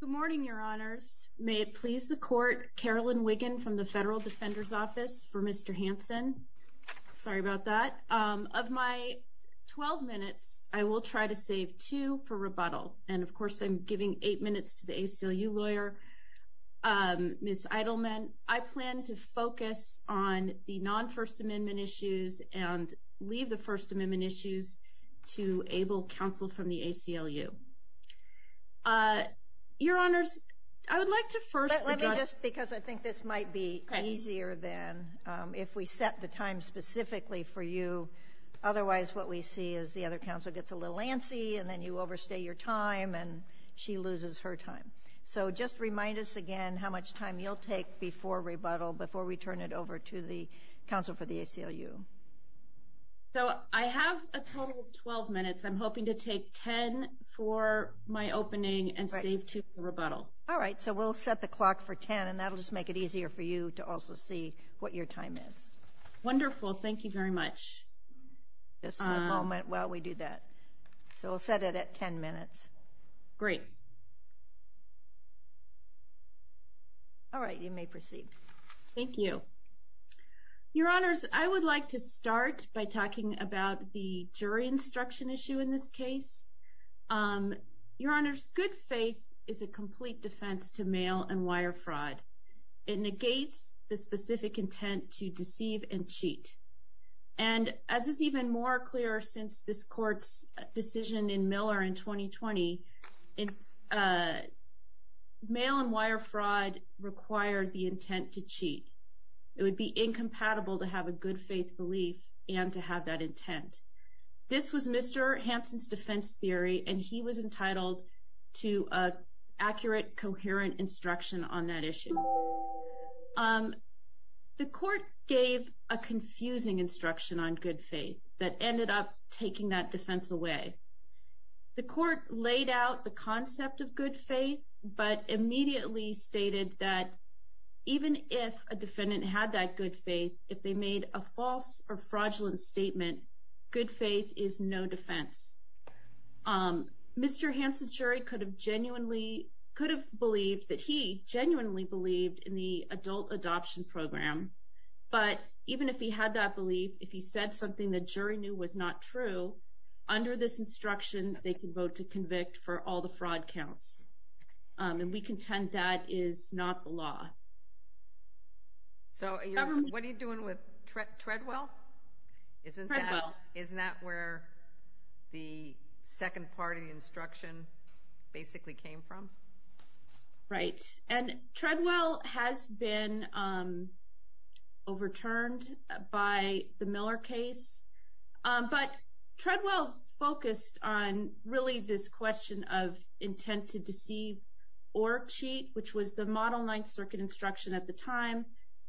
Good morning, your honors. May it please the court, Carolyn Wiggin from the Federal Defender's Office for Mr. Hansen. Sorry about that. Of my 12 minutes, I will try to save two for rebuttal. And of course, I'm giving eight minutes to the ACLU lawyer, Ms. Eidelman. And I plan to focus on the non-First Amendment issues and leave the First Amendment issues to Abel Counsel from the ACLU. Your honors, I would like to first – Let me just – because I think this might be easier than if we set the time specifically for you. Otherwise, what we see is the other counsel gets a little antsy, and then you overstay your time, and she loses her time. So just remind us again how much time you'll take before rebuttal, before we turn it over to the counsel for the ACLU. So I have a total of 12 minutes. I'm hoping to take 10 for my opening and save two for rebuttal. All right. So we'll set the clock for 10, and that'll just make it easier for you to also see what your time is. Wonderful. Thank you very much. Just a moment while we do that. So we'll set it at 10 minutes. Great. All right. You may proceed. Thank you. Your honors, I would like to start by talking about the jury instruction issue in this case. Your honors, good faith is a complete defense to mail and wire fraud. It negates the specific intent to deceive and cheat. And as is even more clear since this court's decision in Miller in 2020, mail and wire fraud required the intent to cheat. It would be incompatible to have a good faith belief and to have that intent. This was Mr. Hansen's defense theory, and he was entitled to accurate, coherent instruction on that issue. The court gave a confusing instruction on good faith that ended up taking that defense away. The court laid out the concept of good faith, but immediately stated that even if a defendant had that good faith, if they made a false or fraudulent statement, good faith is no defense. Mr. Hansen's jury could have genuinely, could have believed that he genuinely believed in the adult adoption program, but even if he had that belief, if he said something the jury knew was not true, under this instruction they could vote to convict for all the fraud counts. And we contend that is not the law. So what are you doing with Treadwell? Treadwell. Isn't that where the second part of the instruction basically came from? Right. And Treadwell has been overturned by the Miller case, but Treadwell focused on really this question of intent to deceive or cheat, which was the Model Ninth Circuit instruction at the time.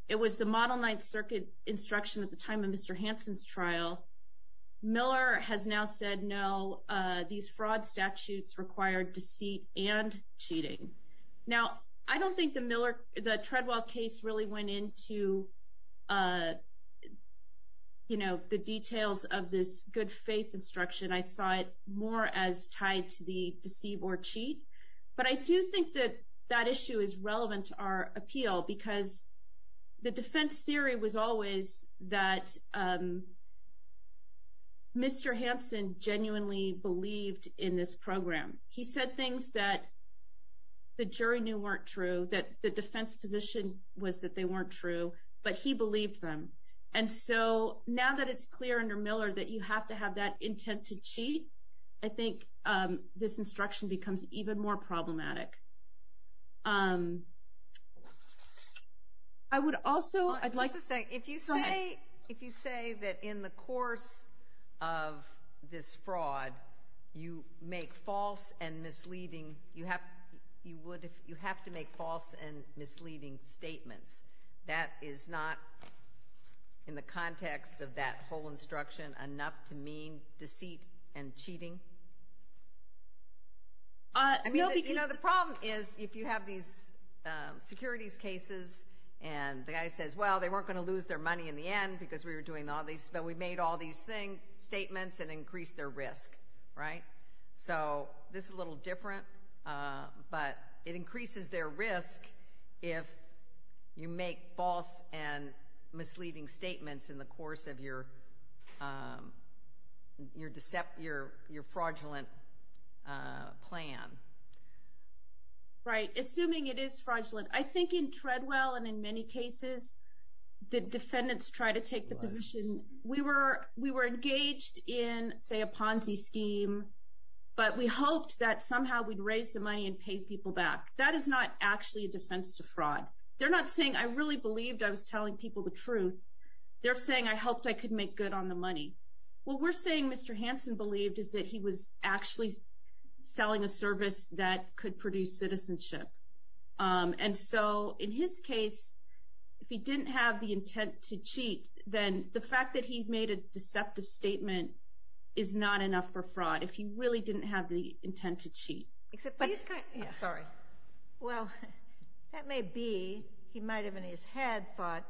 It was the Model Ninth Circuit instruction at the time of Mr. Hansen's trial. Miller has now said no, these fraud statutes require deceit and cheating. Now, I don't think the Treadwell case really went into, you know, the details of this good faith instruction. I saw it more as tied to the deceive or cheat. But I do think that that issue is relevant to our appeal, because the defense theory was always that Mr. Hansen genuinely believed in this program. He said things that the jury knew weren't true, that the defense position was that they weren't true, but he believed them. And so now that it's clear under Miller that you have to have that intent to cheat, I think this instruction becomes even more problematic. I would also, I'd like to say. Go ahead. If you say that in the course of this fraud you make false and misleading, you have to make false and misleading statements, that is not in the context of that whole instruction enough to mean deceit and cheating? I mean, you know, the problem is if you have these securities cases and the guy says, well, they weren't going to lose their money in the end because we were doing all these, but we made all these statements and increased their risk, right? So this is a little different, but it increases their risk if you make false and misleading statements in the course of your fraudulent plan. Right. Assuming it is fraudulent. I think in Treadwell and in many cases the defendants try to take the position. We were engaged in, say, a Ponzi scheme, but we hoped that somehow we'd raise the money and pay people back. That is not actually a defense to fraud. They're not saying I really believed I was telling people the truth. They're saying I hoped I could make good on the money. What we're saying Mr. Hansen believed is that he was actually selling a service that could produce citizenship. And so, in his case, if he didn't have the intent to cheat, then the fact that he made a deceptive statement is not enough for fraud, if he really didn't have the intent to cheat. But he's kind of – sorry. Well, that may be. He might have in his head thought,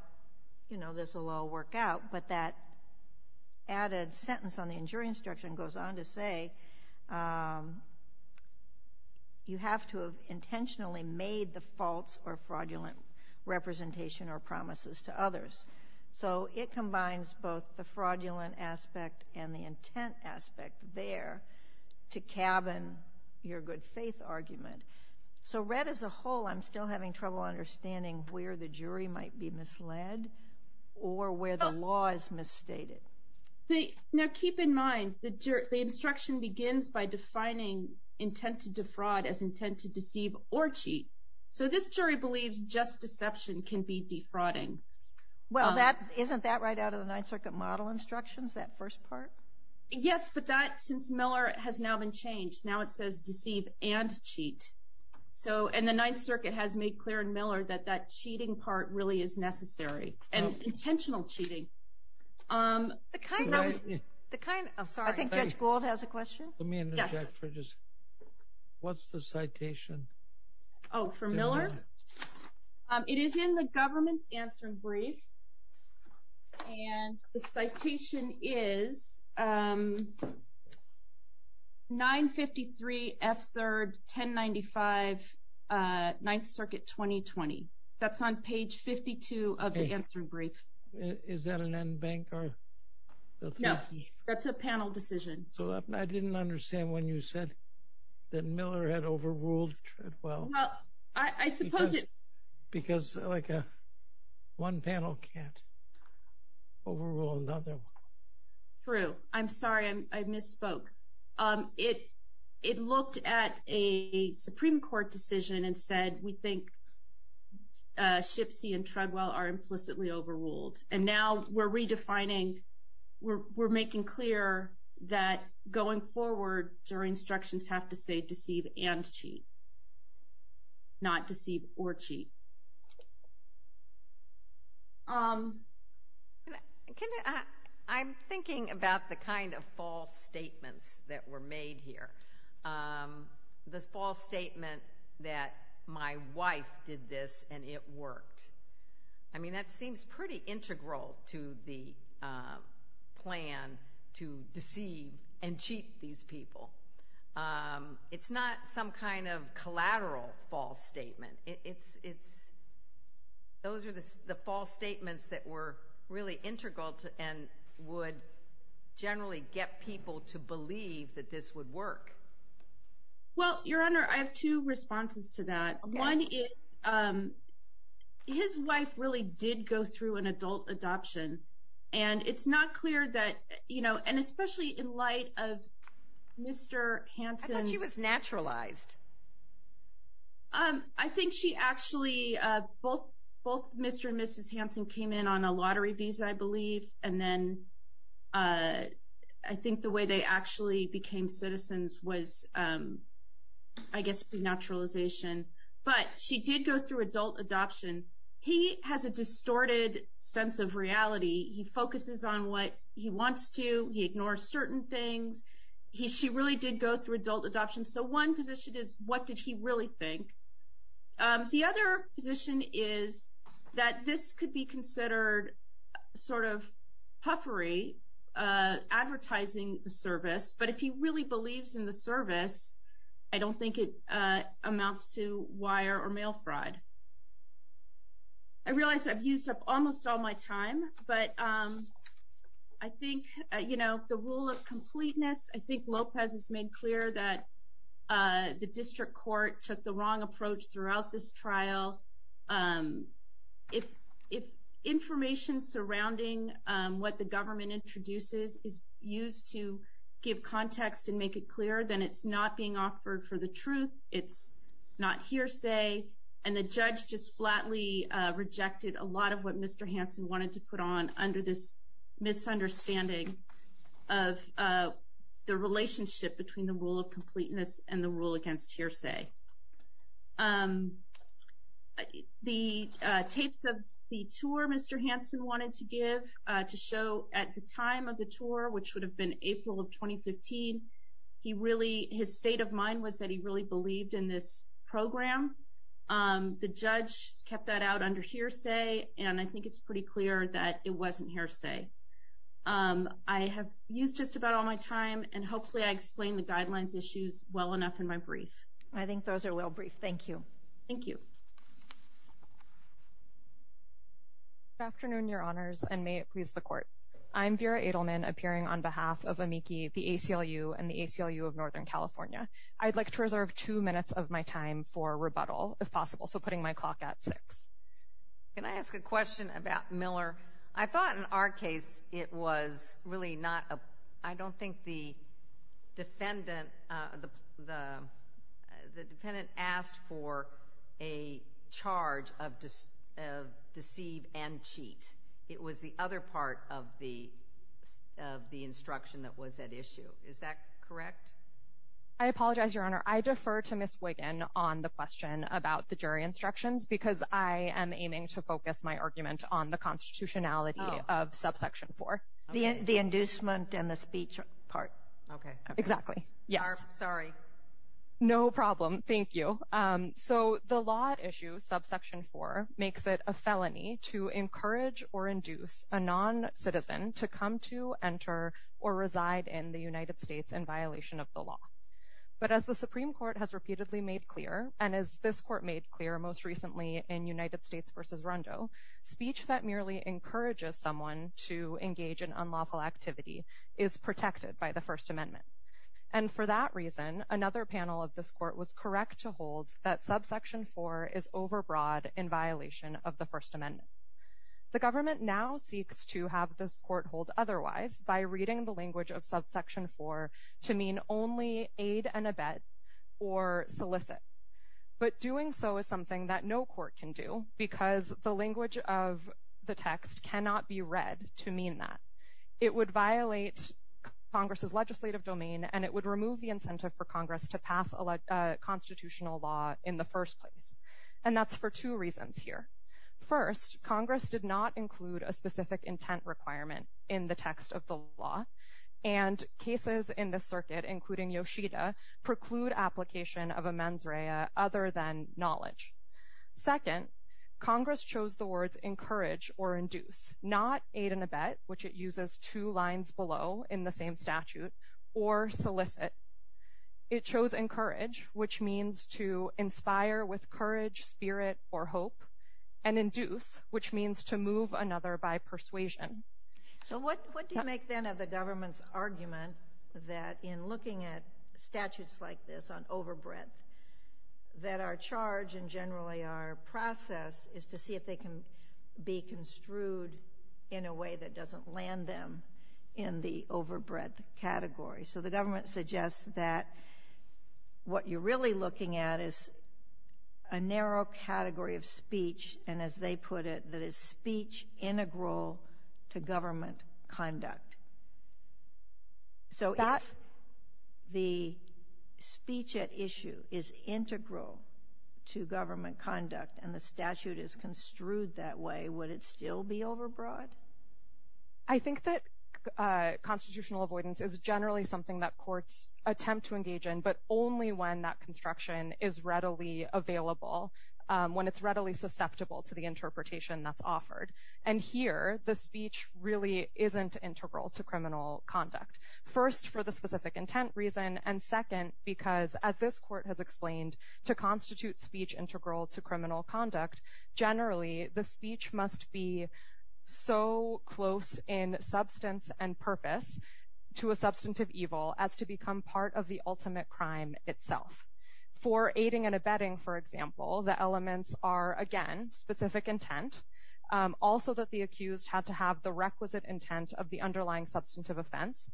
you know, this will all work out, but that added sentence on the injury instruction goes on to say, you have to have intentionally made the false or fraudulent representation or promises to others. So it combines both the fraudulent aspect and the intent aspect there to cabin your good faith argument. So read as a whole, I'm still having trouble understanding where the jury might be misled or where the law is misstated. Now keep in mind, the instruction begins by defining intent to defraud as intent to deceive or cheat. So this jury believes just deception can be defrauding. Well, isn't that right out of the Ninth Circuit model instructions, that first part? Yes, but that, since Miller, has now been changed. Now it says deceive and cheat. And the Ninth Circuit has made clear in Miller that that cheating part really is necessary, and intentional cheating. I think Judge Gould has a question. Let me interject for just, what's the citation? Oh, for Miller? It is in the government's answering brief, and the citation is 953 F. 3rd, 1095 Ninth Circuit, 2020. That's on page 52 of the answering brief. Is that an en banc or? No, that's a panel decision. I didn't understand when you said that Miller had overruled it well. Well, I suppose it. Because like one panel can't overrule another one. True. I'm sorry, I misspoke. It looked at a Supreme Court decision and said, we think Schipse and Treadwell are implicitly overruled. And now we're redefining, we're making clear that going forward, your instructions have to say deceive and cheat, not deceive or cheat. I'm thinking about the kind of false statements that were made here. The false statement that my wife did this and it worked. I mean, that seems pretty integral to the plan to deceive and cheat these people. It's not some kind of collateral false statement. Those are the false statements that were really integral and would generally get people to believe that this would work. Well, Your Honor, I have two responses to that. One is his wife really did go through an adult adoption, and it's not clear that, you know, and especially in light of Mr. Hansen's. I thought she was naturalized. I think she actually, both Mr. and Mrs. Hansen came in on a lottery visa, I believe, and then I think the way they actually became citizens was, I guess, naturalization. But she did go through adult adoption. He has a distorted sense of reality. He focuses on what he wants to. He ignores certain things. She really did go through adult adoption. So one position is what did he really think? The other position is that this could be considered sort of puffery, advertising the service, but if he really believes in the service, I don't think it amounts to wire or mail fraud. I realize I've used up almost all my time, but I think, you know, the rule of completeness, I think Lopez has made clear that the district court took the wrong approach throughout this trial. If information surrounding what the government introduces is used to give context and make it clear, then it's not being offered for the truth. It's not hearsay, and the judge just flatly rejected a lot of what Mr. Hansen wanted to put on under this misunderstanding of the relationship between the rule of completeness and the rule against hearsay. The tapes of the tour Mr. Hansen wanted to give to show at the time of the tour, which would have been April of 2015, his state of mind was that he really believed in this program. The judge kept that out under hearsay, and I think it's pretty clear that it wasn't hearsay. I have used just about all my time, and hopefully I explained the guidelines issues well enough in my brief. I think those are well briefed. Thank you. Thank you. Good afternoon, Your Honors, and may it please the Court. I'm Vera Edelman, appearing on behalf of AMICI, the ACLU, and the ACLU of Northern California. I'd like to reserve two minutes of my time for rebuttal, if possible, so putting my clock at six. Can I ask a question about Miller? I thought in our case it was really not a—I don't think the defendant asked for a charge of deceive and cheat. It was the other part of the instruction that was at issue. Is that correct? I apologize, Your Honor. I defer to Ms. Wiggin on the question about the jury instructions, because I am aiming to focus my argument on the constitutionality of subsection 4. The inducement and the speech part. Exactly. Yes. Sorry. No problem. Thank you. So the law at issue, subsection 4, makes it a felony to encourage or induce a non-citizen to come to, enter, or reside in the United States in violation of the law. But as the Supreme Court has repeatedly made clear, and as this Court made clear most recently in United States v. Rondo, speech that merely encourages someone to engage in unlawful activity is protected by the First Amendment. And for that reason, another panel of this Court was correct to hold that subsection 4 is overbroad in violation of the First Amendment. The government now seeks to have this Court hold otherwise by reading the language of subsection 4 to mean only aid and abet or solicit. But doing so is something that no court can do, because the language of the text cannot be read to mean that. It would violate Congress's legislative domain, and it would remove the incentive for Congress to pass constitutional law in the first place. And that's for two reasons here. First, Congress did not include a specific intent requirement in the text of the law, and cases in this circuit, including Yoshida, preclude application of a mens rea other than knowledge. Second, Congress chose the words encourage or induce, not aid and abet, which it uses two lines below in the same statute, or solicit. It chose encourage, which means to inspire with courage, spirit, or hope, and induce, which means to move another by persuasion. So what do you make, then, of the government's argument that in looking at statutes like this on overbreadth, that our charge and generally our process is to see if they can be construed in a way that doesn't land them in the overbreadth category? So the government suggests that what you're really looking at is a narrow category of speech, and as they put it, that is speech integral to government conduct. So if the speech at issue is integral to government conduct and the statute is construed that way, would it still be overbroad? I think that constitutional avoidance is generally something that courts attempt to engage in, but only when that construction is readily available, when it's readily susceptible to the interpretation that's offered. And here, the speech really isn't integral to criminal conduct, first, for the specific intent reason, and second, because as this court has explained, to constitute speech integral to criminal conduct, generally the speech must be so close in substance and purpose to a substantive evil as to become part of the ultimate crime itself. For aiding and abetting, for example, the elements are, again, specific intent, also that the accused had to have the requisite intent of the underlying substantive offense,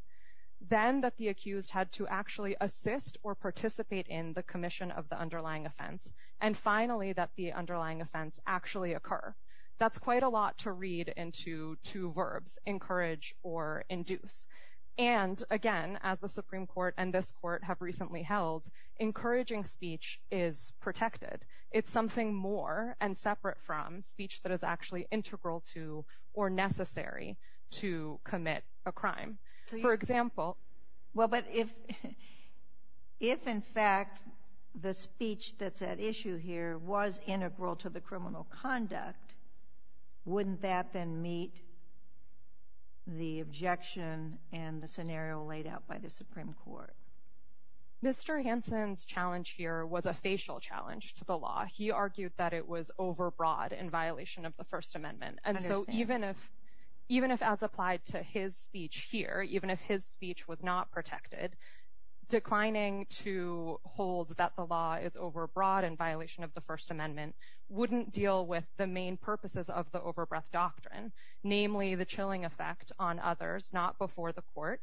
then that the accused had to actually assist or participate in the commission of the underlying offense, and finally that the underlying offense actually occur. That's quite a lot to read into two verbs, encourage or induce. And again, as the Supreme Court and this court have recently held, encouraging speech is protected. It's something more and separate from speech that is actually integral to or necessary to commit a crime. Well, but if in fact the speech that's at issue here was integral to the criminal conduct, wouldn't that then meet the objection and the scenario laid out by the Supreme Court? Mr. Hansen's challenge here was a facial challenge to the law. He argued that it was overbroad in violation of the First Amendment. And so even if, as applied to his speech here, even if his speech was not protected, declining to hold that the law is overbroad in violation of the First Amendment wouldn't deal with the main purposes of the overbreath doctrine, namely the chilling effect on others not before the court,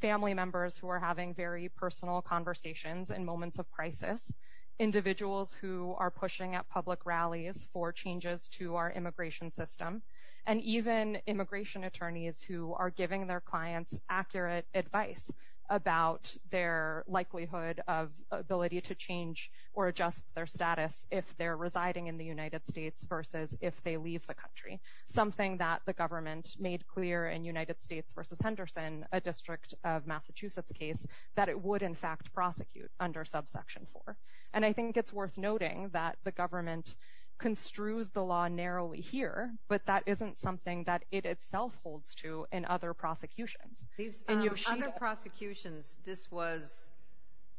family members who are having very personal conversations in moments of crisis, individuals who are pushing at public rallies for changes to our immigration system, and even immigration attorneys who are giving their clients accurate advice about their likelihood of ability to change or adjust their status if they're residing in the United States versus if they leave the country, something that the government made clear in United States v. Henderson, a district of Massachusetts case, that it would in fact prosecute under subsection 4. And I think it's worth noting that the government construes the law narrowly here, but that isn't something that it itself holds to in other prosecutions. These other prosecutions, this was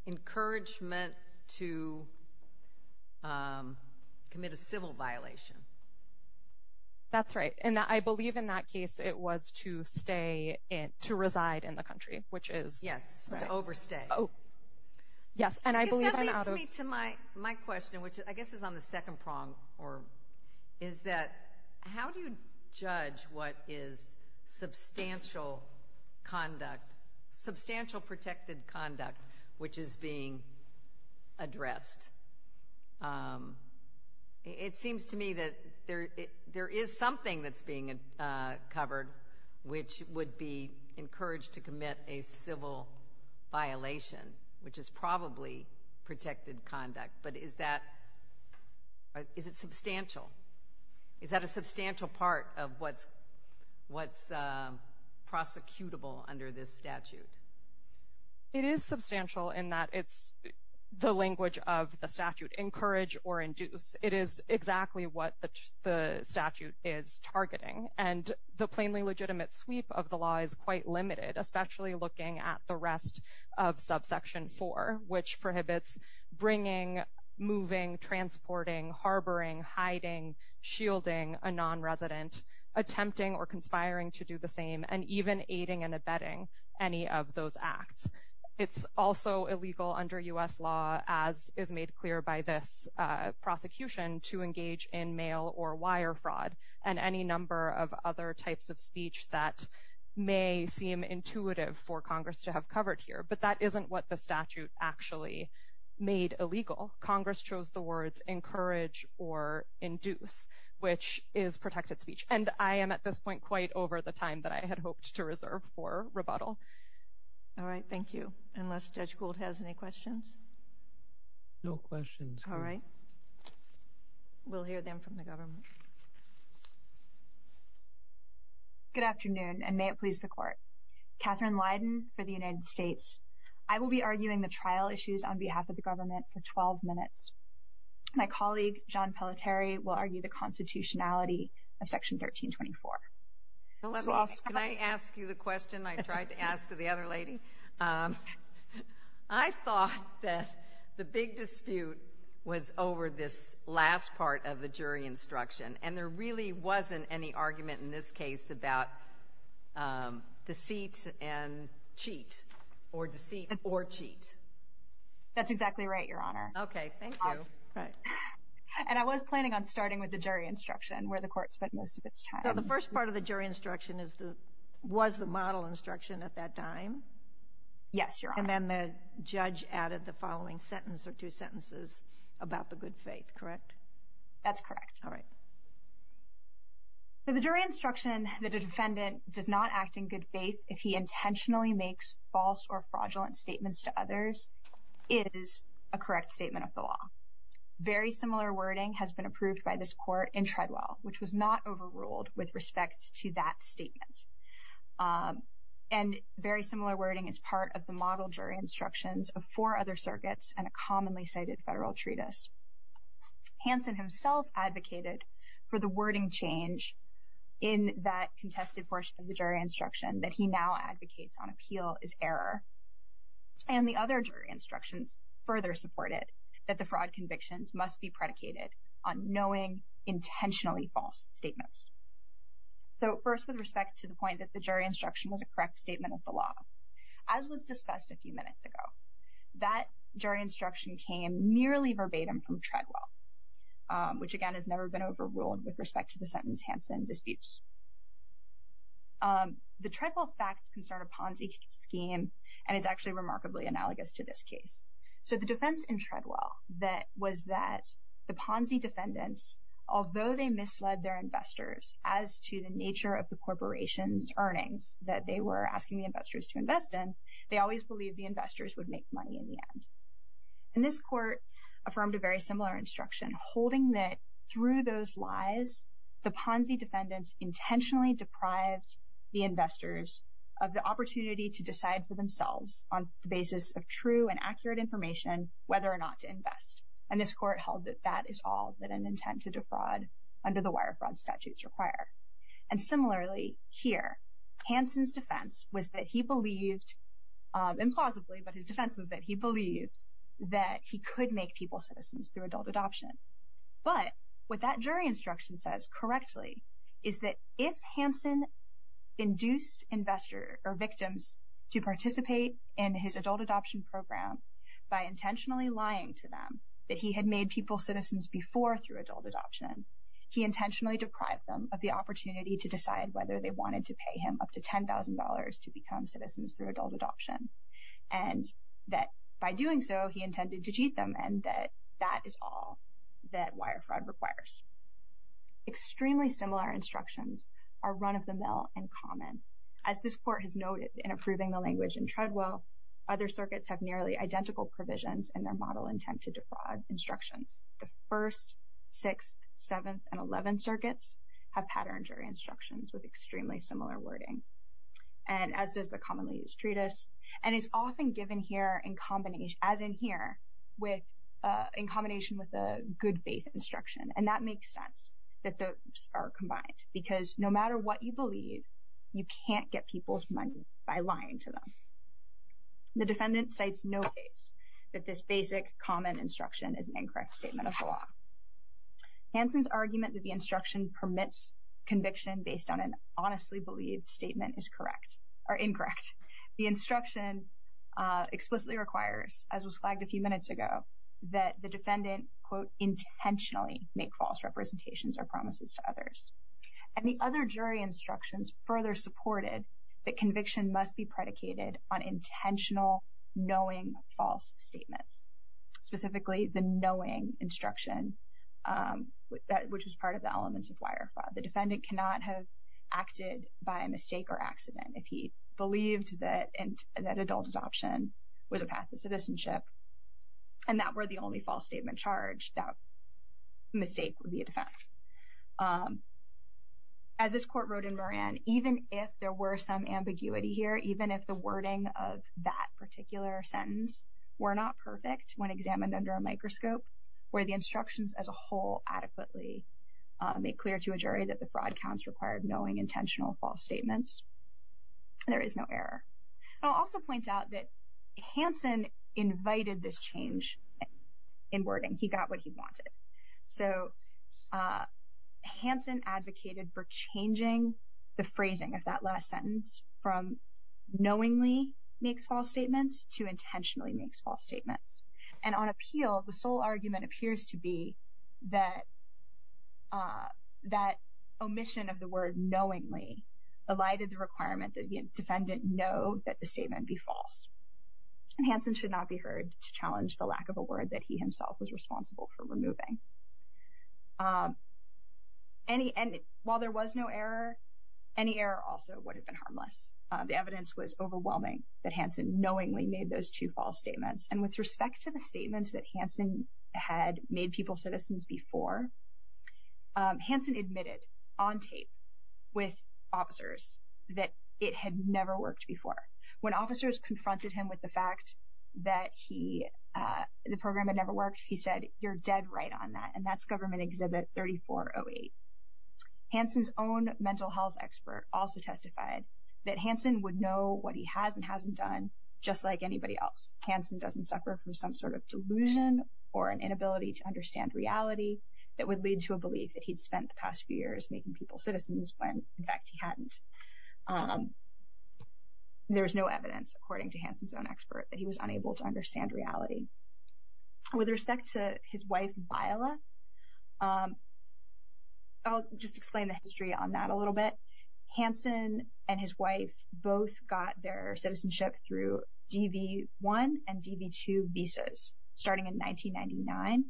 encouraged meant to commit a civil violation. That's right. And I believe in that case it was to stay in, to reside in the country, which is right. Yes, overstay. Oh, yes, and I believe I'm out of— Because that leads me to my question, which I guess is on the second prong, or is that how do you judge what is substantial conduct, substantial protected conduct, which is being addressed? It seems to me that there is something that's being covered which would be encouraged to commit a civil violation, which is probably protected conduct. But is it substantial? Is that a substantial part of what's prosecutable under this statute? It is substantial in that it's the language of the statute, encourage or induce. It is exactly what the statute is targeting. And the plainly legitimate sweep of the law is quite limited, especially looking at the rest of subsection 4, which prohibits bringing, moving, transporting, harboring, hiding, shielding a nonresident, attempting or conspiring to do the same, and even aiding and abetting any of those acts. It's also illegal under U.S. law, as is made clear by this prosecution, to engage in mail or wire fraud and any number of other types of speech that may seem intuitive for Congress to have covered here. But that isn't what the statute actually made illegal. Congress chose the words encourage or induce, which is protected speech. And I am at this point quite over the time that I had hoped to reserve for rebuttal. All right, thank you. Unless Judge Gould has any questions? No questions. All right. We'll hear them from the government. Good afternoon, and may it please the Court. Katherine Leiden for the United States. I will be arguing the trial issues on behalf of the government for 12 minutes. My colleague, John Pelletieri, will argue the constitutionality of Section 1324. Can I ask you the question I tried to ask the other lady? I thought that the big dispute was over this last part of the jury instruction, and there really wasn't any argument in this case about deceit and cheat, or deceit or cheat. That's exactly right, Your Honor. Okay, thank you. And I was planning on starting with the jury instruction, where the Court spent most of its time. Now, the first part of the jury instruction was the model instruction at that time? Yes, Your Honor. And then the judge added the following sentence or two sentences about the good faith, correct? That's correct. All right. The jury instruction that a defendant does not act in good faith if he intentionally makes false or fraudulent statements to others is a correct statement of the law. Very similar wording has been approved by this Court in Treadwell, which was not overruled with respect to that statement. And very similar wording is part of the model jury instructions of four other circuits and a commonly cited federal treatise. Hansen himself advocated for the wording change in that contested portion of the jury instruction that he now advocates on appeal is error. And the other jury instructions further support it, that the fraud convictions must be predicated on knowing intentionally false statements. So first, with respect to the point that the jury instruction was a correct statement of the law, as was discussed a few minutes ago, that jury instruction came merely verbatim from Treadwell, which, again, has never been overruled with respect to the sentence Hansen disputes. The Treadwell facts concern a Ponzi scheme, and it's actually remarkably analogous to this case. So the defense in Treadwell was that the Ponzi defendants, although they misled their investors as to the nature of the corporation's earnings that they were asking the investors to invest in, they always believed the investors would make money in the end. And this Court affirmed a very similar instruction, holding that through those lies, the Ponzi defendants intentionally deprived the investors of the opportunity to decide for themselves on the basis of true and accurate information whether or not to invest. And this Court held that that is all that an intent to defraud under the wire fraud statutes require. And similarly here, Hansen's defense was that he believed, implausibly, but his defense was that he believed that he could make people citizens through adult adoption. But what that jury instruction says, correctly, is that if Hansen induced investors or victims to participate in his adult adoption program by intentionally lying to them that he had made people citizens before through adult adoption, he intentionally deprived them of the opportunity to decide whether they wanted to pay him up to $10,000 to become citizens through adult adoption. And that by doing so, he intended to cheat them, and that that is all that wire fraud requires. Extremely similar instructions are run-of-the-mill and common. As this Court has noted in approving the language in Treadwell, other circuits have nearly identical provisions in their model intent to defraud instructions. The 1st, 6th, 7th, and 11th circuits have patterned jury instructions with extremely similar wording. And as does the commonly used treatise. And it's often given here, as in here, in combination with a good faith instruction. And that makes sense that those are combined. Because no matter what you believe, you can't get people's money by lying to them. The defendant cites no case that this basic, common instruction is an incorrect statement of the law. Hansen's argument that the instruction permits conviction based on an honestly believed statement is correct, or incorrect. The instruction explicitly requires, as was flagged a few minutes ago, that the defendant, quote, intentionally make false representations or promises to others. And the other jury instructions further supported that conviction must be predicated on intentional, knowing false statements. Specifically, the knowing instruction, which is part of the elements of wire fraud. The defendant cannot have acted by mistake or accident if he believed that adult adoption was a path to citizenship. And that were the only false statement charged, that mistake would be a defense. As this Court wrote in Moran, even if there were some ambiguity here, even if the wording of that particular sentence were not perfect when examined under a microscope, were the instructions as a whole adequately made clear to a jury that the fraud counts required knowing intentional false statements, there is no error. I'll also point out that Hansen invited this change in wording. He got what he wanted. So Hansen advocated for changing the phrasing of that last sentence from knowingly makes false statements to intentionally makes false statements. And on appeal, the sole argument appears to be that that omission of the word knowingly elided the requirement that the defendant know that the statement be false. Hansen should not be heard to challenge the lack of a word that he himself was responsible for removing. Any and while there was no error, any error also would have been harmless. The evidence was overwhelming that Hansen knowingly made those two false statements. And with respect to the statements that Hansen had made people citizens before, Hansen admitted on tape with officers that it had never worked before. When officers confronted him with the fact that he the program had never worked, he said, you're dead right on that. And that's government exhibit 3408. Hansen's own mental health expert also testified that Hansen would know what he has and hasn't done. Just like anybody else. Hansen doesn't suffer from some sort of delusion or an inability to understand reality that would lead to a belief that he'd spent the past few years making people citizens. When, in fact, he hadn't. There is no evidence, according to Hansen's own expert, that he was unable to understand reality. With respect to his wife, Viola. I'll just explain the history on that a little bit. Hansen and his wife both got their citizenship through DV1 and DV2 visas starting in 1999.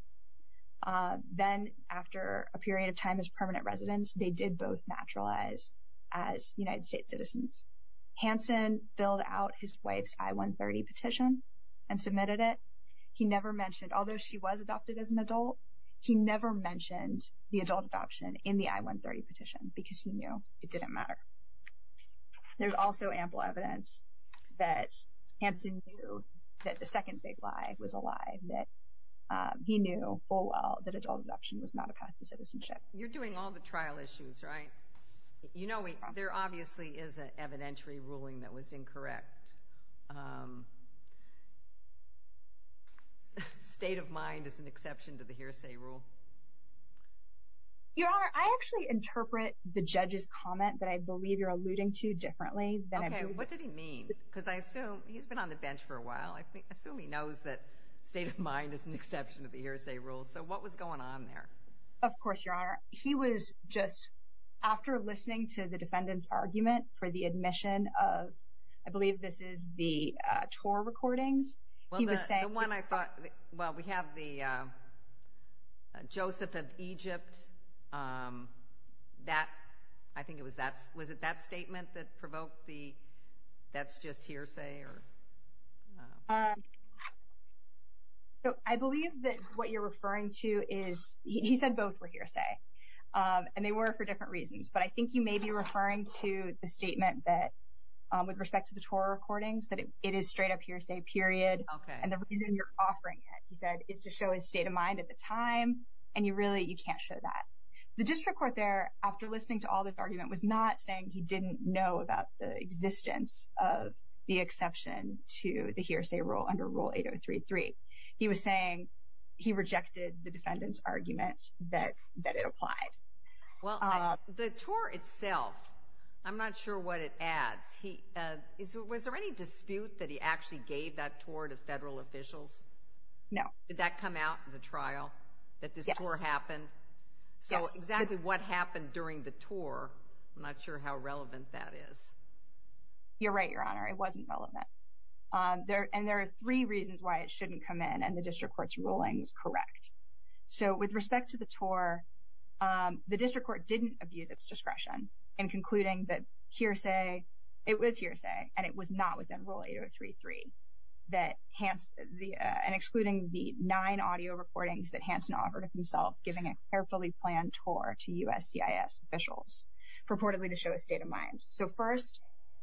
Then, after a period of time as permanent residents, they did both naturalize as United States citizens. Hansen filled out his wife's I-130 petition and submitted it. He never mentioned, although she was adopted as an adult, he never mentioned the adult adoption in the I-130 petition because he knew it didn't matter. There's also ample evidence that Hansen knew that the second big lie was a lie. That he knew full well that adult adoption was not a path to citizenship. You're doing all the trial issues, right? You know, there obviously is an evidentiary ruling that was incorrect. State of mind is an exception to the hearsay rule. Your Honor, I actually interpret the judge's comment that I believe you're alluding to differently. Okay, what did he mean? Because I assume he's been on the bench for a while. I assume he knows that state of mind is an exception to the hearsay rule. So what was going on there? Of course, Your Honor. He was just, after listening to the defendant's argument for the admission of, I believe this is the tour recordings, he was saying- The one I thought, well, we have the Joseph of Egypt, that, I think it was that, was it that statement that provoked the, that's just hearsay? I believe that what you're referring to is, he said both were hearsay. And they were for different reasons. But I think you may be referring to the statement that, with respect to the tour recordings, that it is straight up hearsay, period. Okay. And the reason you're offering it, he said, is to show his state of mind at the time. And you really, you can't show that. The district court there, after listening to all this argument, was not saying he didn't know about the existence of the exception to the hearsay rule under Rule 8033. He was saying he rejected the defendant's argument that it applied. Well, the tour itself, I'm not sure what it adds. Was there any dispute that he actually gave that tour to federal officials? No. Did that come out in the trial, that this tour happened? Yes. So, exactly what happened during the tour, I'm not sure how relevant that is. You're right, Your Honor. It wasn't relevant. And there are three reasons why it shouldn't come in, and the district court's ruling is correct. So, with respect to the tour, the district court didn't abuse its discretion in concluding that hearsay, it was hearsay, and it was not within Rule 8033, and excluding the nine audio recordings that Hanson offered himself, giving a carefully planned tour to USCIS officials, purportedly to show his state of mind. So, first,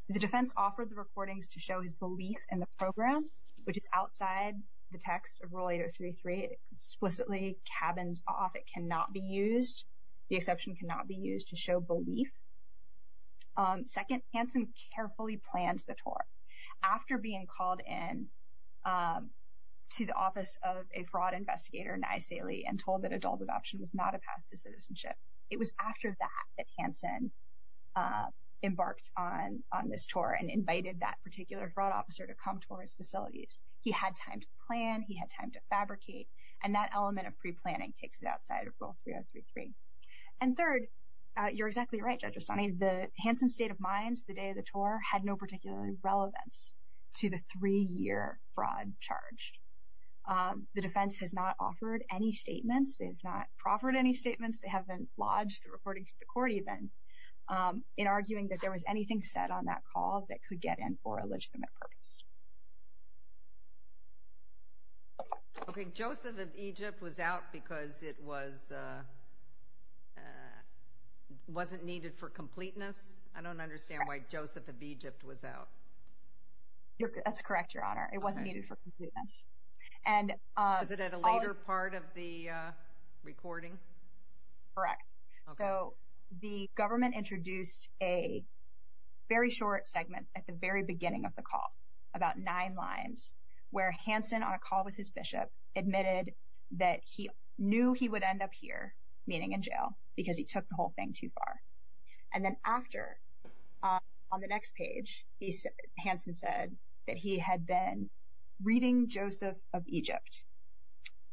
the defense offered the recordings to show his belief in the program, which is outside the text of Rule 8033. It explicitly cabins off. It cannot be used. The exception cannot be used to show belief. Second, Hanson carefully planned the tour. After being called in to the office of a fraud investigator, Nisaly, and told that adult adoption was not a path to citizenship, it was after that that Hanson embarked on this tour and invited that particular fraud officer to come to his facilities. He had time to plan. He had time to fabricate. And that element of preplanning takes it outside of Rule 3033. And third, you're exactly right, Judge Osani, that Hanson's state of mind the day of the tour had no particular relevance to the three-year fraud charge. The defense has not offered any statements. They have not proffered any statements. They haven't lodged a recording to the court, even, in arguing that there was anything said on that call that could get in for a legitimate purpose. Okay. Joseph of Egypt was out because it wasn't needed for completeness. I don't understand why Joseph of Egypt was out. That's correct, Your Honor. It wasn't needed for completeness. Was it at a later part of the recording? Correct. So the government introduced a very short segment at the very beginning of the call, about nine lines, where Hanson, on a call with his bishop, admitted that he knew he would end up here, meaning in jail, because he took the whole thing too far. And then after, on the next page, Hanson said that he had been reading Joseph of Egypt.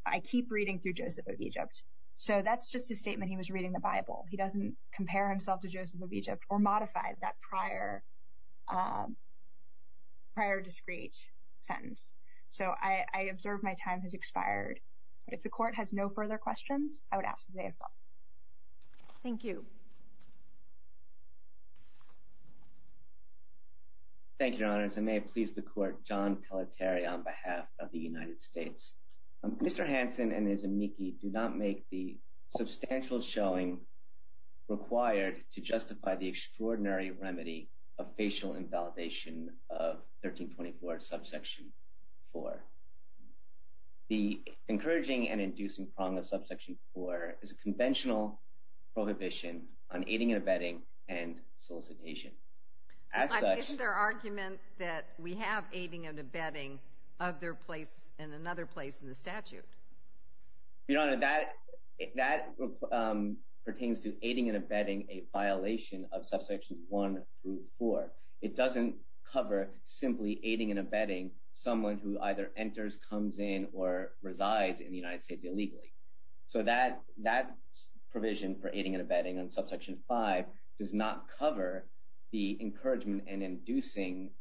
I keep reading through Joseph of Egypt. So that's just a statement he was reading the Bible. He doesn't compare himself to Joseph of Egypt or modify that prior discreet sentence. So I observe my time has expired. But if the court has no further questions, I would ask the day of trial. Thank you. Thank you, Your Honors. I may have pleased the court, John Pelletier on behalf of the United States. Mr. Hanson and his amici do not make the substantial showing required to justify the extraordinary remedy of facial invalidation of 1324, subsection 4. The encouraging and inducing prong of subsection 4 is a conventional prohibition on aiding and abetting and solicitation. Is there argument that we have aiding and abetting in another place in the statute? Your Honor, that pertains to aiding and abetting a violation of subsection 1 through 4. It doesn't cover simply aiding and abetting someone who either enters, comes in, or resides in the United States illegally. So that provision for aiding and abetting on subsection 5 does not cover the encouragement and inducing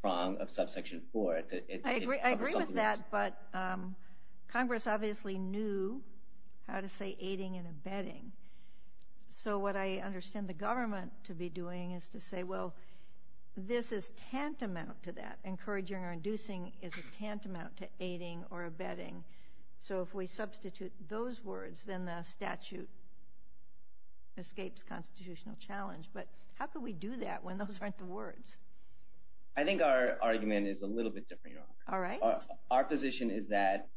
prong of subsection 4. I agree with that, but Congress obviously knew how to say aiding and abetting. So what I understand the government to be doing is to say, well, this is tantamount to that. Encouraging or inducing is a tantamount to aiding or abetting. So if we substitute those words, then the statute escapes constitutional challenge. But how could we do that when those aren't the words? I think our argument is a little bit different, Your Honor. All right. Our position is that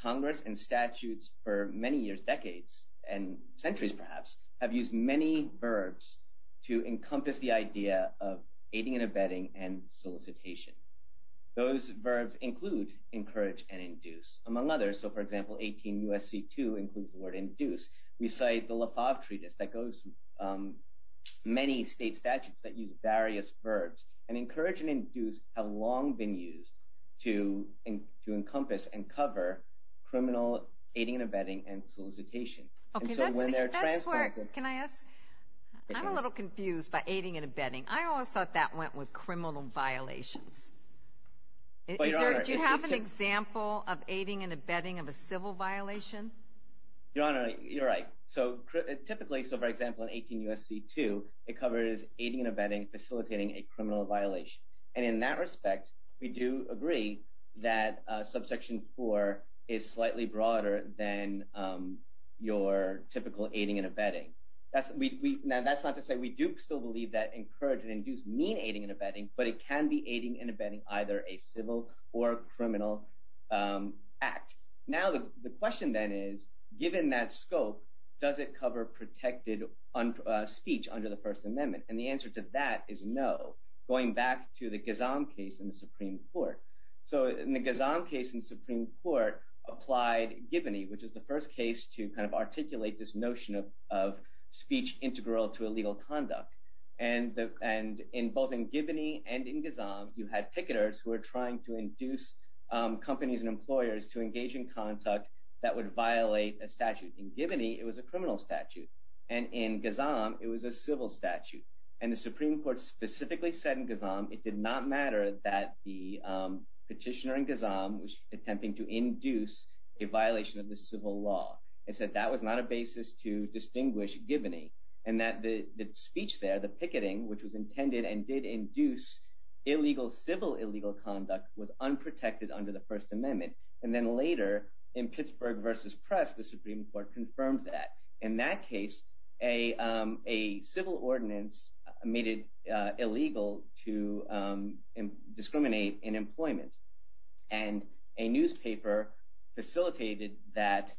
Congress and statutes for many years, decades, and centuries perhaps, have used many verbs to encompass the idea of aiding and abetting and solicitation. Those verbs include encourage and induce. Among others, so for example, 18 U.S.C. 2 includes the word induce. We cite the Lefauve Treatise that goes – many state statutes that use various verbs. And encourage and induce have long been used to encompass and cover criminal aiding and abetting and solicitation. Okay, that's where – can I ask – I'm a little confused by aiding and abetting. I always thought that went with criminal violations. Do you have an example of aiding and abetting of a civil violation? Your Honor, you're right. So typically, so for example, in 18 U.S.C. 2, it covers aiding and abetting facilitating a criminal violation. And in that respect, we do agree that subsection 4 is slightly broader than your typical aiding and abetting. Now, that's not to say we do still believe that encourage and induce mean aiding and abetting, but it can be aiding and abetting either a civil or a criminal act. Now, the question then is, given that scope, does it cover protected speech under the First Amendment? And the answer to that is no, going back to the Ghazan case in the Supreme Court. So in the Ghazan case in the Supreme Court, applied Gibney, which is the first case to kind of articulate this notion of speech integral to illegal conduct. And in both in Gibney and in Ghazan, you had picketers who were trying to induce companies and employers to engage in conduct that would violate a statute. In Gibney, it was a criminal statute. And in Ghazan, it was a civil statute. And the Supreme Court specifically said in Ghazan it did not matter that the petitioner in Ghazan was attempting to induce a violation of the civil law. It said that was not a basis to distinguish Gibney. And that the speech there, the picketing, which was intended and did induce illegal civil illegal conduct, was unprotected under the First Amendment. And then later in Pittsburgh v. Press, the Supreme Court confirmed that. In that case, a civil ordinance made it illegal to discriminate in employment. And a newspaper facilitated that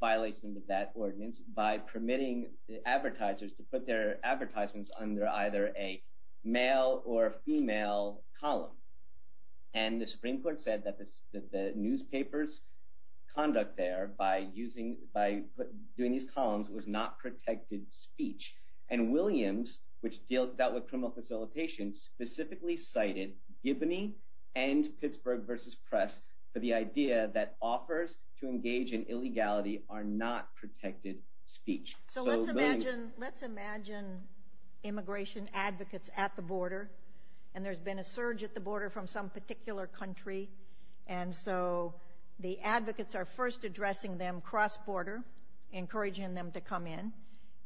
violation of that ordinance by permitting advertisers to put their advertisements under either a male or a female column. And the Supreme Court said that the newspaper's conduct there by using – by doing these columns was not protected speech. And Williams, which dealt with criminal facilitation, specifically cited Gibney and Pittsburgh v. Press for the idea that offers to engage in illegality are not protected speech. So let's imagine – let's imagine immigration advocates at the border, and there's been a surge at the border from some particular country. And so the advocates are first addressing them cross-border, encouraging them to come in.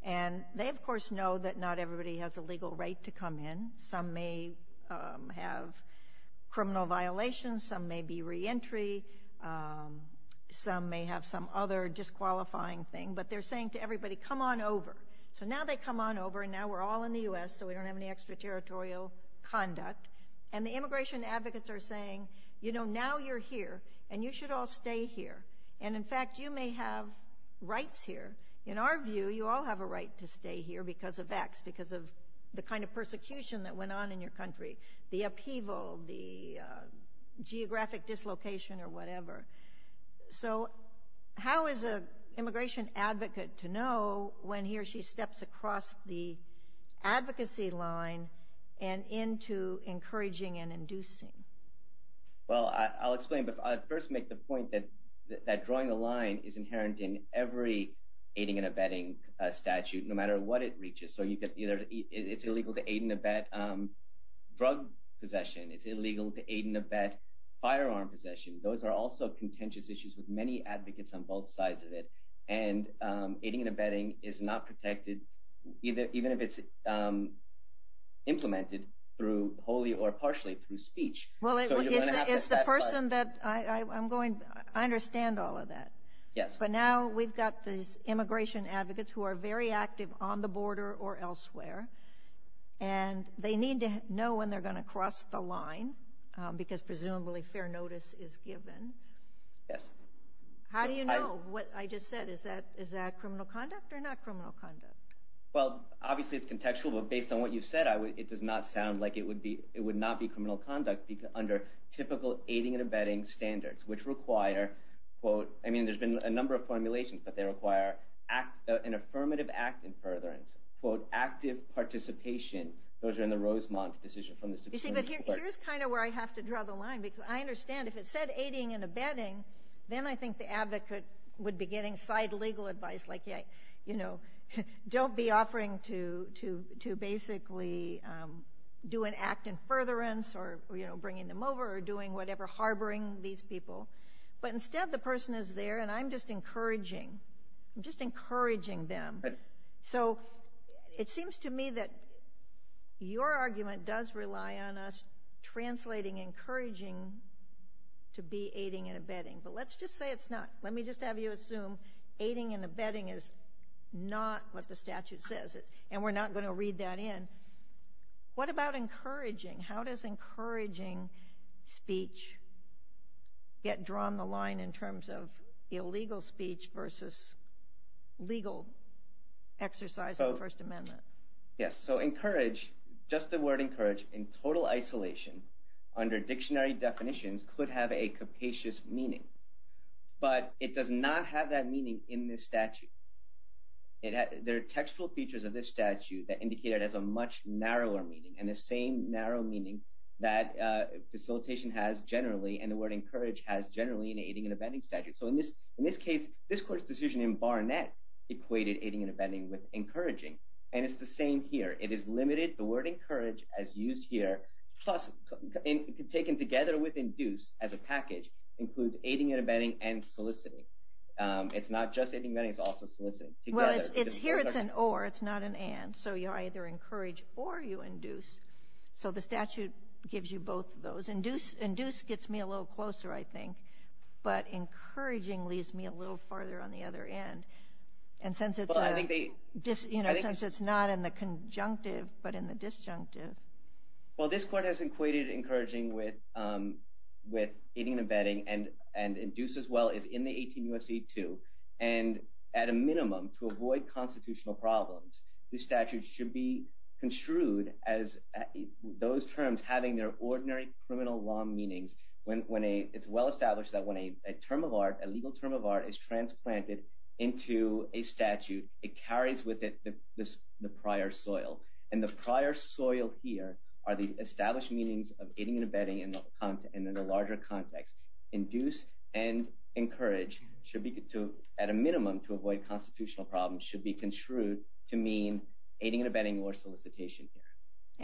And they, of course, know that not everybody has a legal right to come in. Some may have criminal violations. Some may be reentry. Some may have some other disqualifying thing. But they're saying to everybody, come on over. So now they come on over, and now we're all in the U.S., so we don't have any extraterritorial conduct. And the immigration advocates are saying, you know, now you're here, and you should all stay here. And, in fact, you may have rights here. But in our view, you all have a right to stay here because of X, because of the kind of persecution that went on in your country, the upheaval, the geographic dislocation or whatever. So how is an immigration advocate to know when he or she steps across the advocacy line and into encouraging and inducing? Well, I'll explain. But I'll first make the point that drawing the line is inherent in every aiding and abetting statute, no matter what it reaches. So it's illegal to aid and abet drug possession. It's illegal to aid and abet firearm possession. Those are also contentious issues with many advocates on both sides of it. And aiding and abetting is not protected, even if it's implemented, through wholly or partially through speech. Well, it's the person that – I'm going – I understand all of that. Yes. But now we've got these immigration advocates who are very active on the border or elsewhere, and they need to know when they're going to cross the line because, presumably, fair notice is given. Yes. How do you know? What I just said, is that criminal conduct or not criminal conduct? Well, obviously, it's contextual. But based on what you've said, it does not sound like it would be – it would not be criminal conduct under typical aiding and abetting standards, which require, quote – I mean, there's been a number of formulations, but they require an affirmative act in furtherance, quote, active participation. Those are in the Rosemont decision from the Supreme Court. See, but here's kind of where I have to draw the line, because I understand if it said aiding and abetting, then I think the advocate would be getting side legal advice like, you know, don't be offering to basically do an act in furtherance or, you know, bringing them over or doing whatever, harboring these people. But instead, the person is there, and I'm just encouraging. I'm just encouraging them. Right. So it seems to me that your argument does rely on us translating encouraging to be aiding and abetting. But let's just say it's not. Let me just have you assume aiding and abetting is not what the statute says, and we're not going to read that in. What about encouraging? How does encouraging speech get drawn the line in terms of illegal speech versus legal exercise of the First Amendment? Yes, so encourage, just the word encourage, in total isolation, under dictionary definitions, could have a capacious meaning. But it does not have that meaning in this statute. There are textual features of this statute that indicate it has a much narrower meaning and the same narrow meaning that facilitation has generally and the word encourage has generally in the aiding and abetting statute. So in this case, this court's decision in Barnett equated aiding and abetting with encouraging, and it's the same here. It is limited. The word encourage, as used here, taken together with induce as a package, includes aiding and abetting and soliciting. It's not just aiding and abetting. It's also soliciting. Well, here it's an or. It's not an and. So you either encourage or you induce. So the statute gives you both of those. Induce gets me a little closer, I think, but encouraging leads me a little farther on the other end. And since it's not in the conjunctive but in the disjunctive. Well, this court has equated encouraging with aiding and abetting and induce as well as in the 18 U.S.C. 2. And at a minimum, to avoid constitutional problems, the statute should be construed as those terms having their ordinary criminal law meanings. It's well established that when a term of art, a legal term of art, is transplanted into a statute, it carries with it the prior soil. And the prior soil here are the established meanings of aiding and abetting in the larger context. Induce and encourage, at a minimum, to avoid constitutional problems, should be construed to mean aiding and abetting or solicitation here.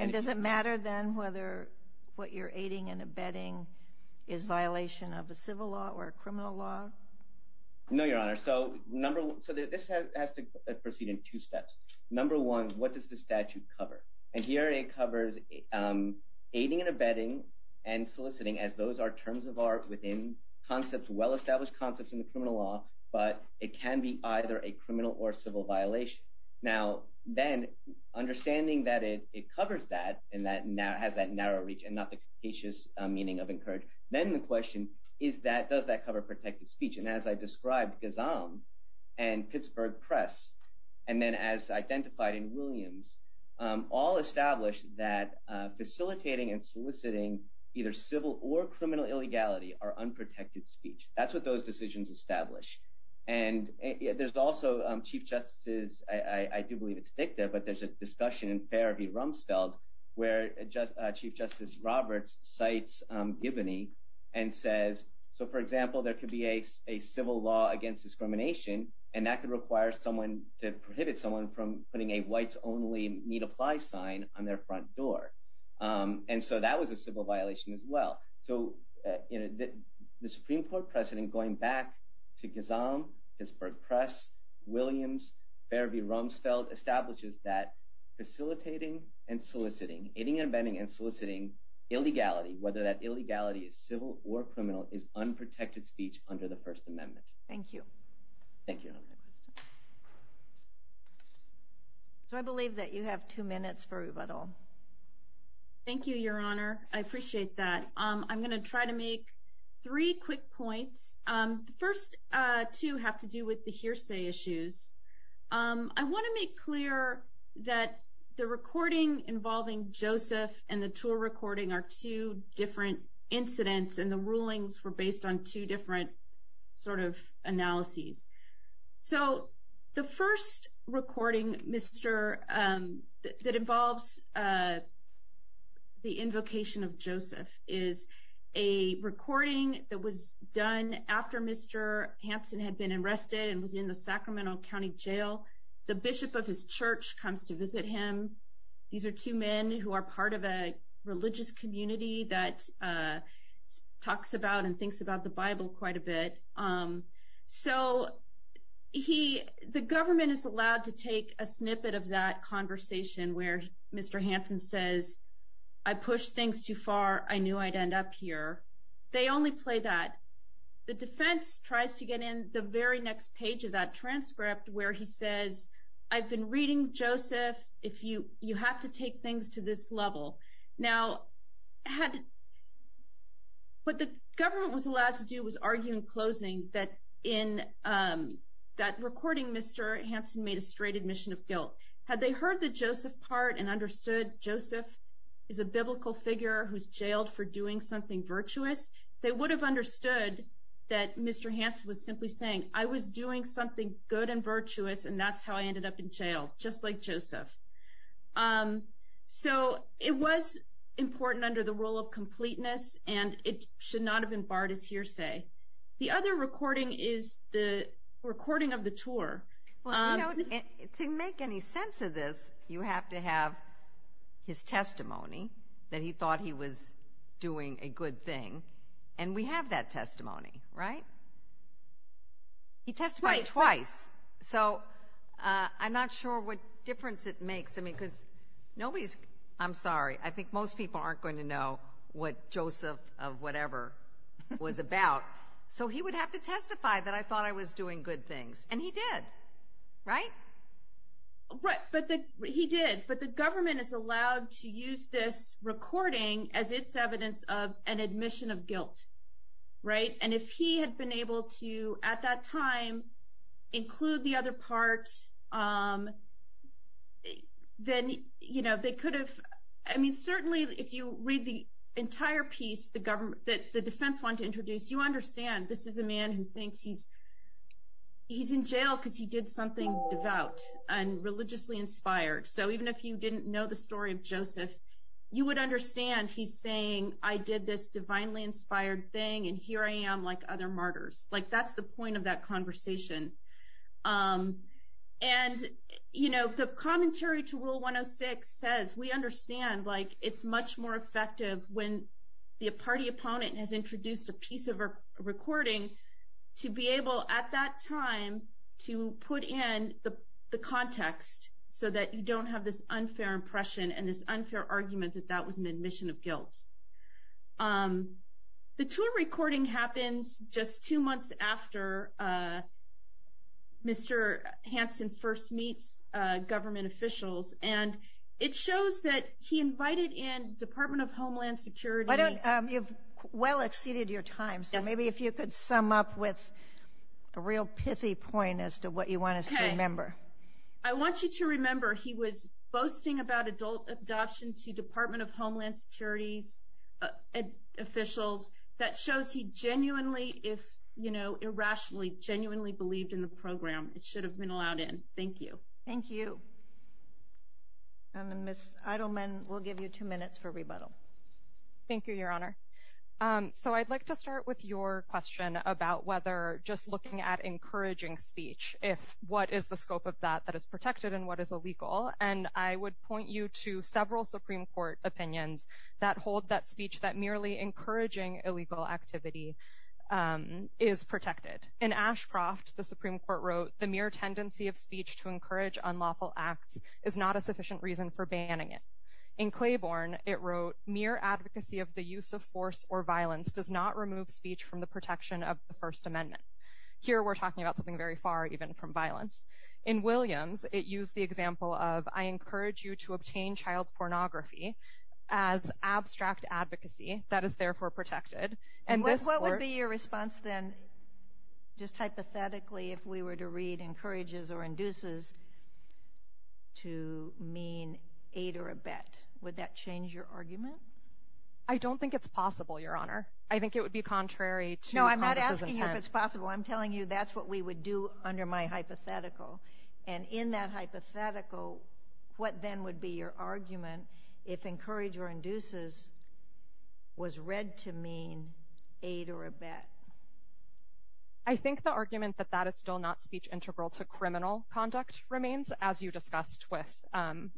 And does it matter then whether what you're aiding and abetting is violation of a civil law or a criminal law? No, Your Honor. So this has to proceed in two steps. Number one, what does the statute cover? And here it covers aiding and abetting and soliciting as those are terms of art within concepts, well-established concepts in the criminal law. But it can be either a criminal or civil violation. Now, then, understanding that it covers that and that now has that narrow reach and not the capacious meaning of encourage, then the question is that does that cover protected speech? And as I described, Gazam and Pittsburgh Press, and then as identified in Williams, all established that facilitating and soliciting either civil or criminal illegality are unprotected speech. That's what those decisions establish. And there's also Chief Justice's, I do believe it's dicta, but there's a discussion in Fair v. Rumsfeld where Chief Justice Roberts cites Giboney and says, so, for example, there could be a civil law against discrimination, and that could require someone to prohibit someone from putting a whites-only need-apply sign on their front door. And so that was a civil violation as well. So the Supreme Court precedent going back to Gazam, Pittsburgh Press, Williams, Fair v. Rumsfeld establishes that facilitating and soliciting, aiding and abetting and soliciting illegality, whether that illegality is civil or criminal, is unprotected speech under the First Amendment. Thank you. Thank you. So I believe that you have two minutes for rebuttal. Thank you, Your Honor. I appreciate that. I'm going to try to make three quick points. The first two have to do with the hearsay issues. I want to make clear that the recording involving Joseph and the tour recording are two different incidents, and the rulings were based on two different sort of analyses. So the first recording that involves the invocation of Joseph is a recording that was done after Mr. Hansen had been arrested and was in the Sacramento County Jail. The bishop of his church comes to visit him. These are two men who are part of a religious community that talks about and thinks about the Bible quite a bit. So the government is allowed to take a snippet of that conversation where Mr. Hansen says, I pushed things too far, I knew I'd end up here. They only play that. The defense tries to get in the very next page of that transcript where he says, I've been reading Joseph, you have to take things to this level. Now, what the government was allowed to do was argue in closing that in that recording Mr. Hansen made a straight admission of guilt. Had they heard the Joseph part and understood Joseph is a biblical figure who's jailed for doing something virtuous, they would have understood that Mr. Hansen was simply saying, I was doing something good and virtuous and that's how I ended up in jail, just like Joseph. So it was important under the rule of completeness and it should not have been barred as hearsay. The other recording is the recording of the tour. To make any sense of this, you have to have his testimony that he thought he was doing a good thing, and we have that testimony, right? He testified twice. Twice. So I'm not sure what difference it makes. I'm sorry, I think most people aren't going to know what Joseph of whatever was about. So he would have to testify that I thought I was doing good things, and he did, right? He did, but the government is allowed to use this recording as its evidence of an admission of guilt, right? And if he had been able to, at that time, include the other part, then they could have – I mean, certainly if you read the entire piece that the defense wanted to introduce, you understand this is a man who thinks he's in jail because he did something devout and religiously inspired. So even if you didn't know the story of Joseph, you would understand he's saying, I did this divinely inspired thing, and here I am like other martyrs. Like, that's the point of that conversation. And, you know, the commentary to Rule 106 says we understand, like, it's much more effective when the party opponent has introduced a piece of a recording to be able, at that time, to put in the context so that you don't have this unfair impression and this unfair argument that that was an admission of guilt. The tour recording happens just two months after Mr. Hansen first meets government officials, and it shows that he invited in Department of Homeland Security. You've well exceeded your time, so maybe if you could sum up with a real pithy point as to what you want us to remember. I want you to remember he was boasting about adult adoption to Department of Homeland Security's officials. That shows he genuinely, if, you know, irrationally, genuinely believed in the program. It should have been allowed in. Thank you. Thank you. Ms. Eidelman, we'll give you two minutes for rebuttal. Thank you, Your Honor. So I'd like to start with your question about whether just looking at encouraging speech, if what is the scope of that that is protected and what is illegal, and I would point you to several Supreme Court opinions that hold that speech, that merely encouraging illegal activity is protected. In Ashcroft, the Supreme Court wrote, the mere tendency of speech to encourage unlawful acts is not a sufficient reason for banning it. In Claiborne, it wrote, mere advocacy of the use of force or violence does not remove speech from the protection of the First Amendment. Here we're talking about something very far, even from violence. In Williams, it used the example of, I encourage you to obtain child pornography as abstract advocacy that is therefore protected. What would be your response then, just hypothetically, if we were to read encourages or induces to mean aid or abet? Would that change your argument? I don't think it's possible, Your Honor. I think it would be contrary to Congress's intent. No, I'm not asking you if it's possible. I'm telling you that's what we would do under my hypothetical. And in that hypothetical, what then would be your argument if encourage or induces was read to mean aid or abet? I think the argument that that is still not speech integral to criminal conduct remains, as you discussed with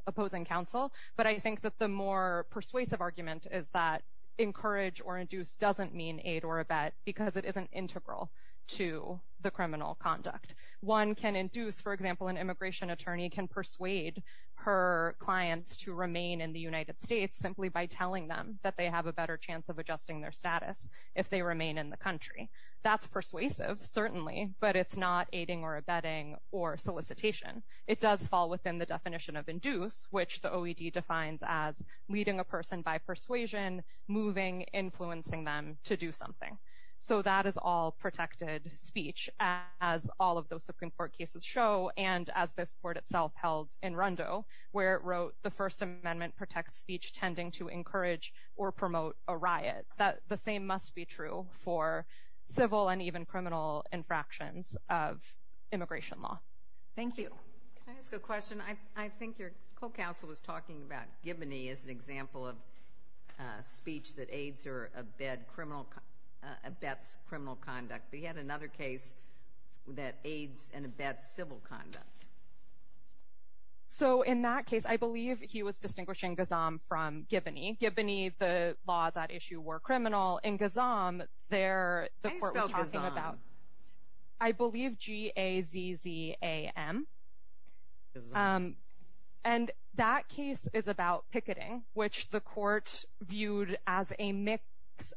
opposing counsel. But I think that the more persuasive argument is that encourage or induce doesn't mean aid or abet, because it isn't integral to the criminal conduct. One can induce, for example, an immigration attorney can persuade her clients to remain in the United States simply by telling them that they have a better chance of adjusting their status if they remain in the country. That's persuasive, certainly, but it's not aiding or abetting or solicitation. It does fall within the definition of induce, which the OED defines as leading a person by persuasion, moving, influencing them to do something. So that is all protected speech, as all of those Supreme Court cases show, and as this Court itself held in Rundo where it wrote the First Amendment protects speech tending to encourage or promote a riot. The same must be true for civil and even criminal infractions of immigration law. Thank you. Can I ask a question? I think your co-counsel was talking about Giboney as an example of speech that aids or abets criminal conduct, but he had another case that aids and abets civil conduct. So in that case, I believe he was distinguishing Gazam from Giboney. Giboney, the laws at issue were criminal. In Gazam, there the Court was talking about. How do you spell Gazam? I believe G-A-Z-Z-A-M. And that case is about picketing, which the Court viewed as a mix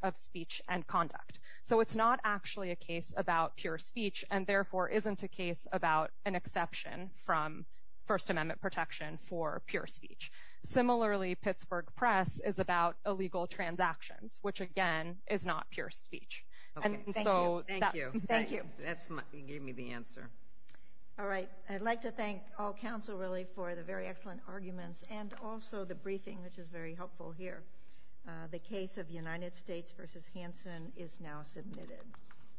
of speech and conduct. So it's not actually a case about pure speech, and therefore isn't a case about an exception from First Amendment protection for pure speech. Similarly, Pittsburgh Press is about illegal transactions, which, again, is not pure speech. Thank you. That gave me the answer. All right. I'd like to thank all counsel, really, for the very excellent arguments and also the briefing, which is very helpful here. The case of United States v. Hansen is now submitted.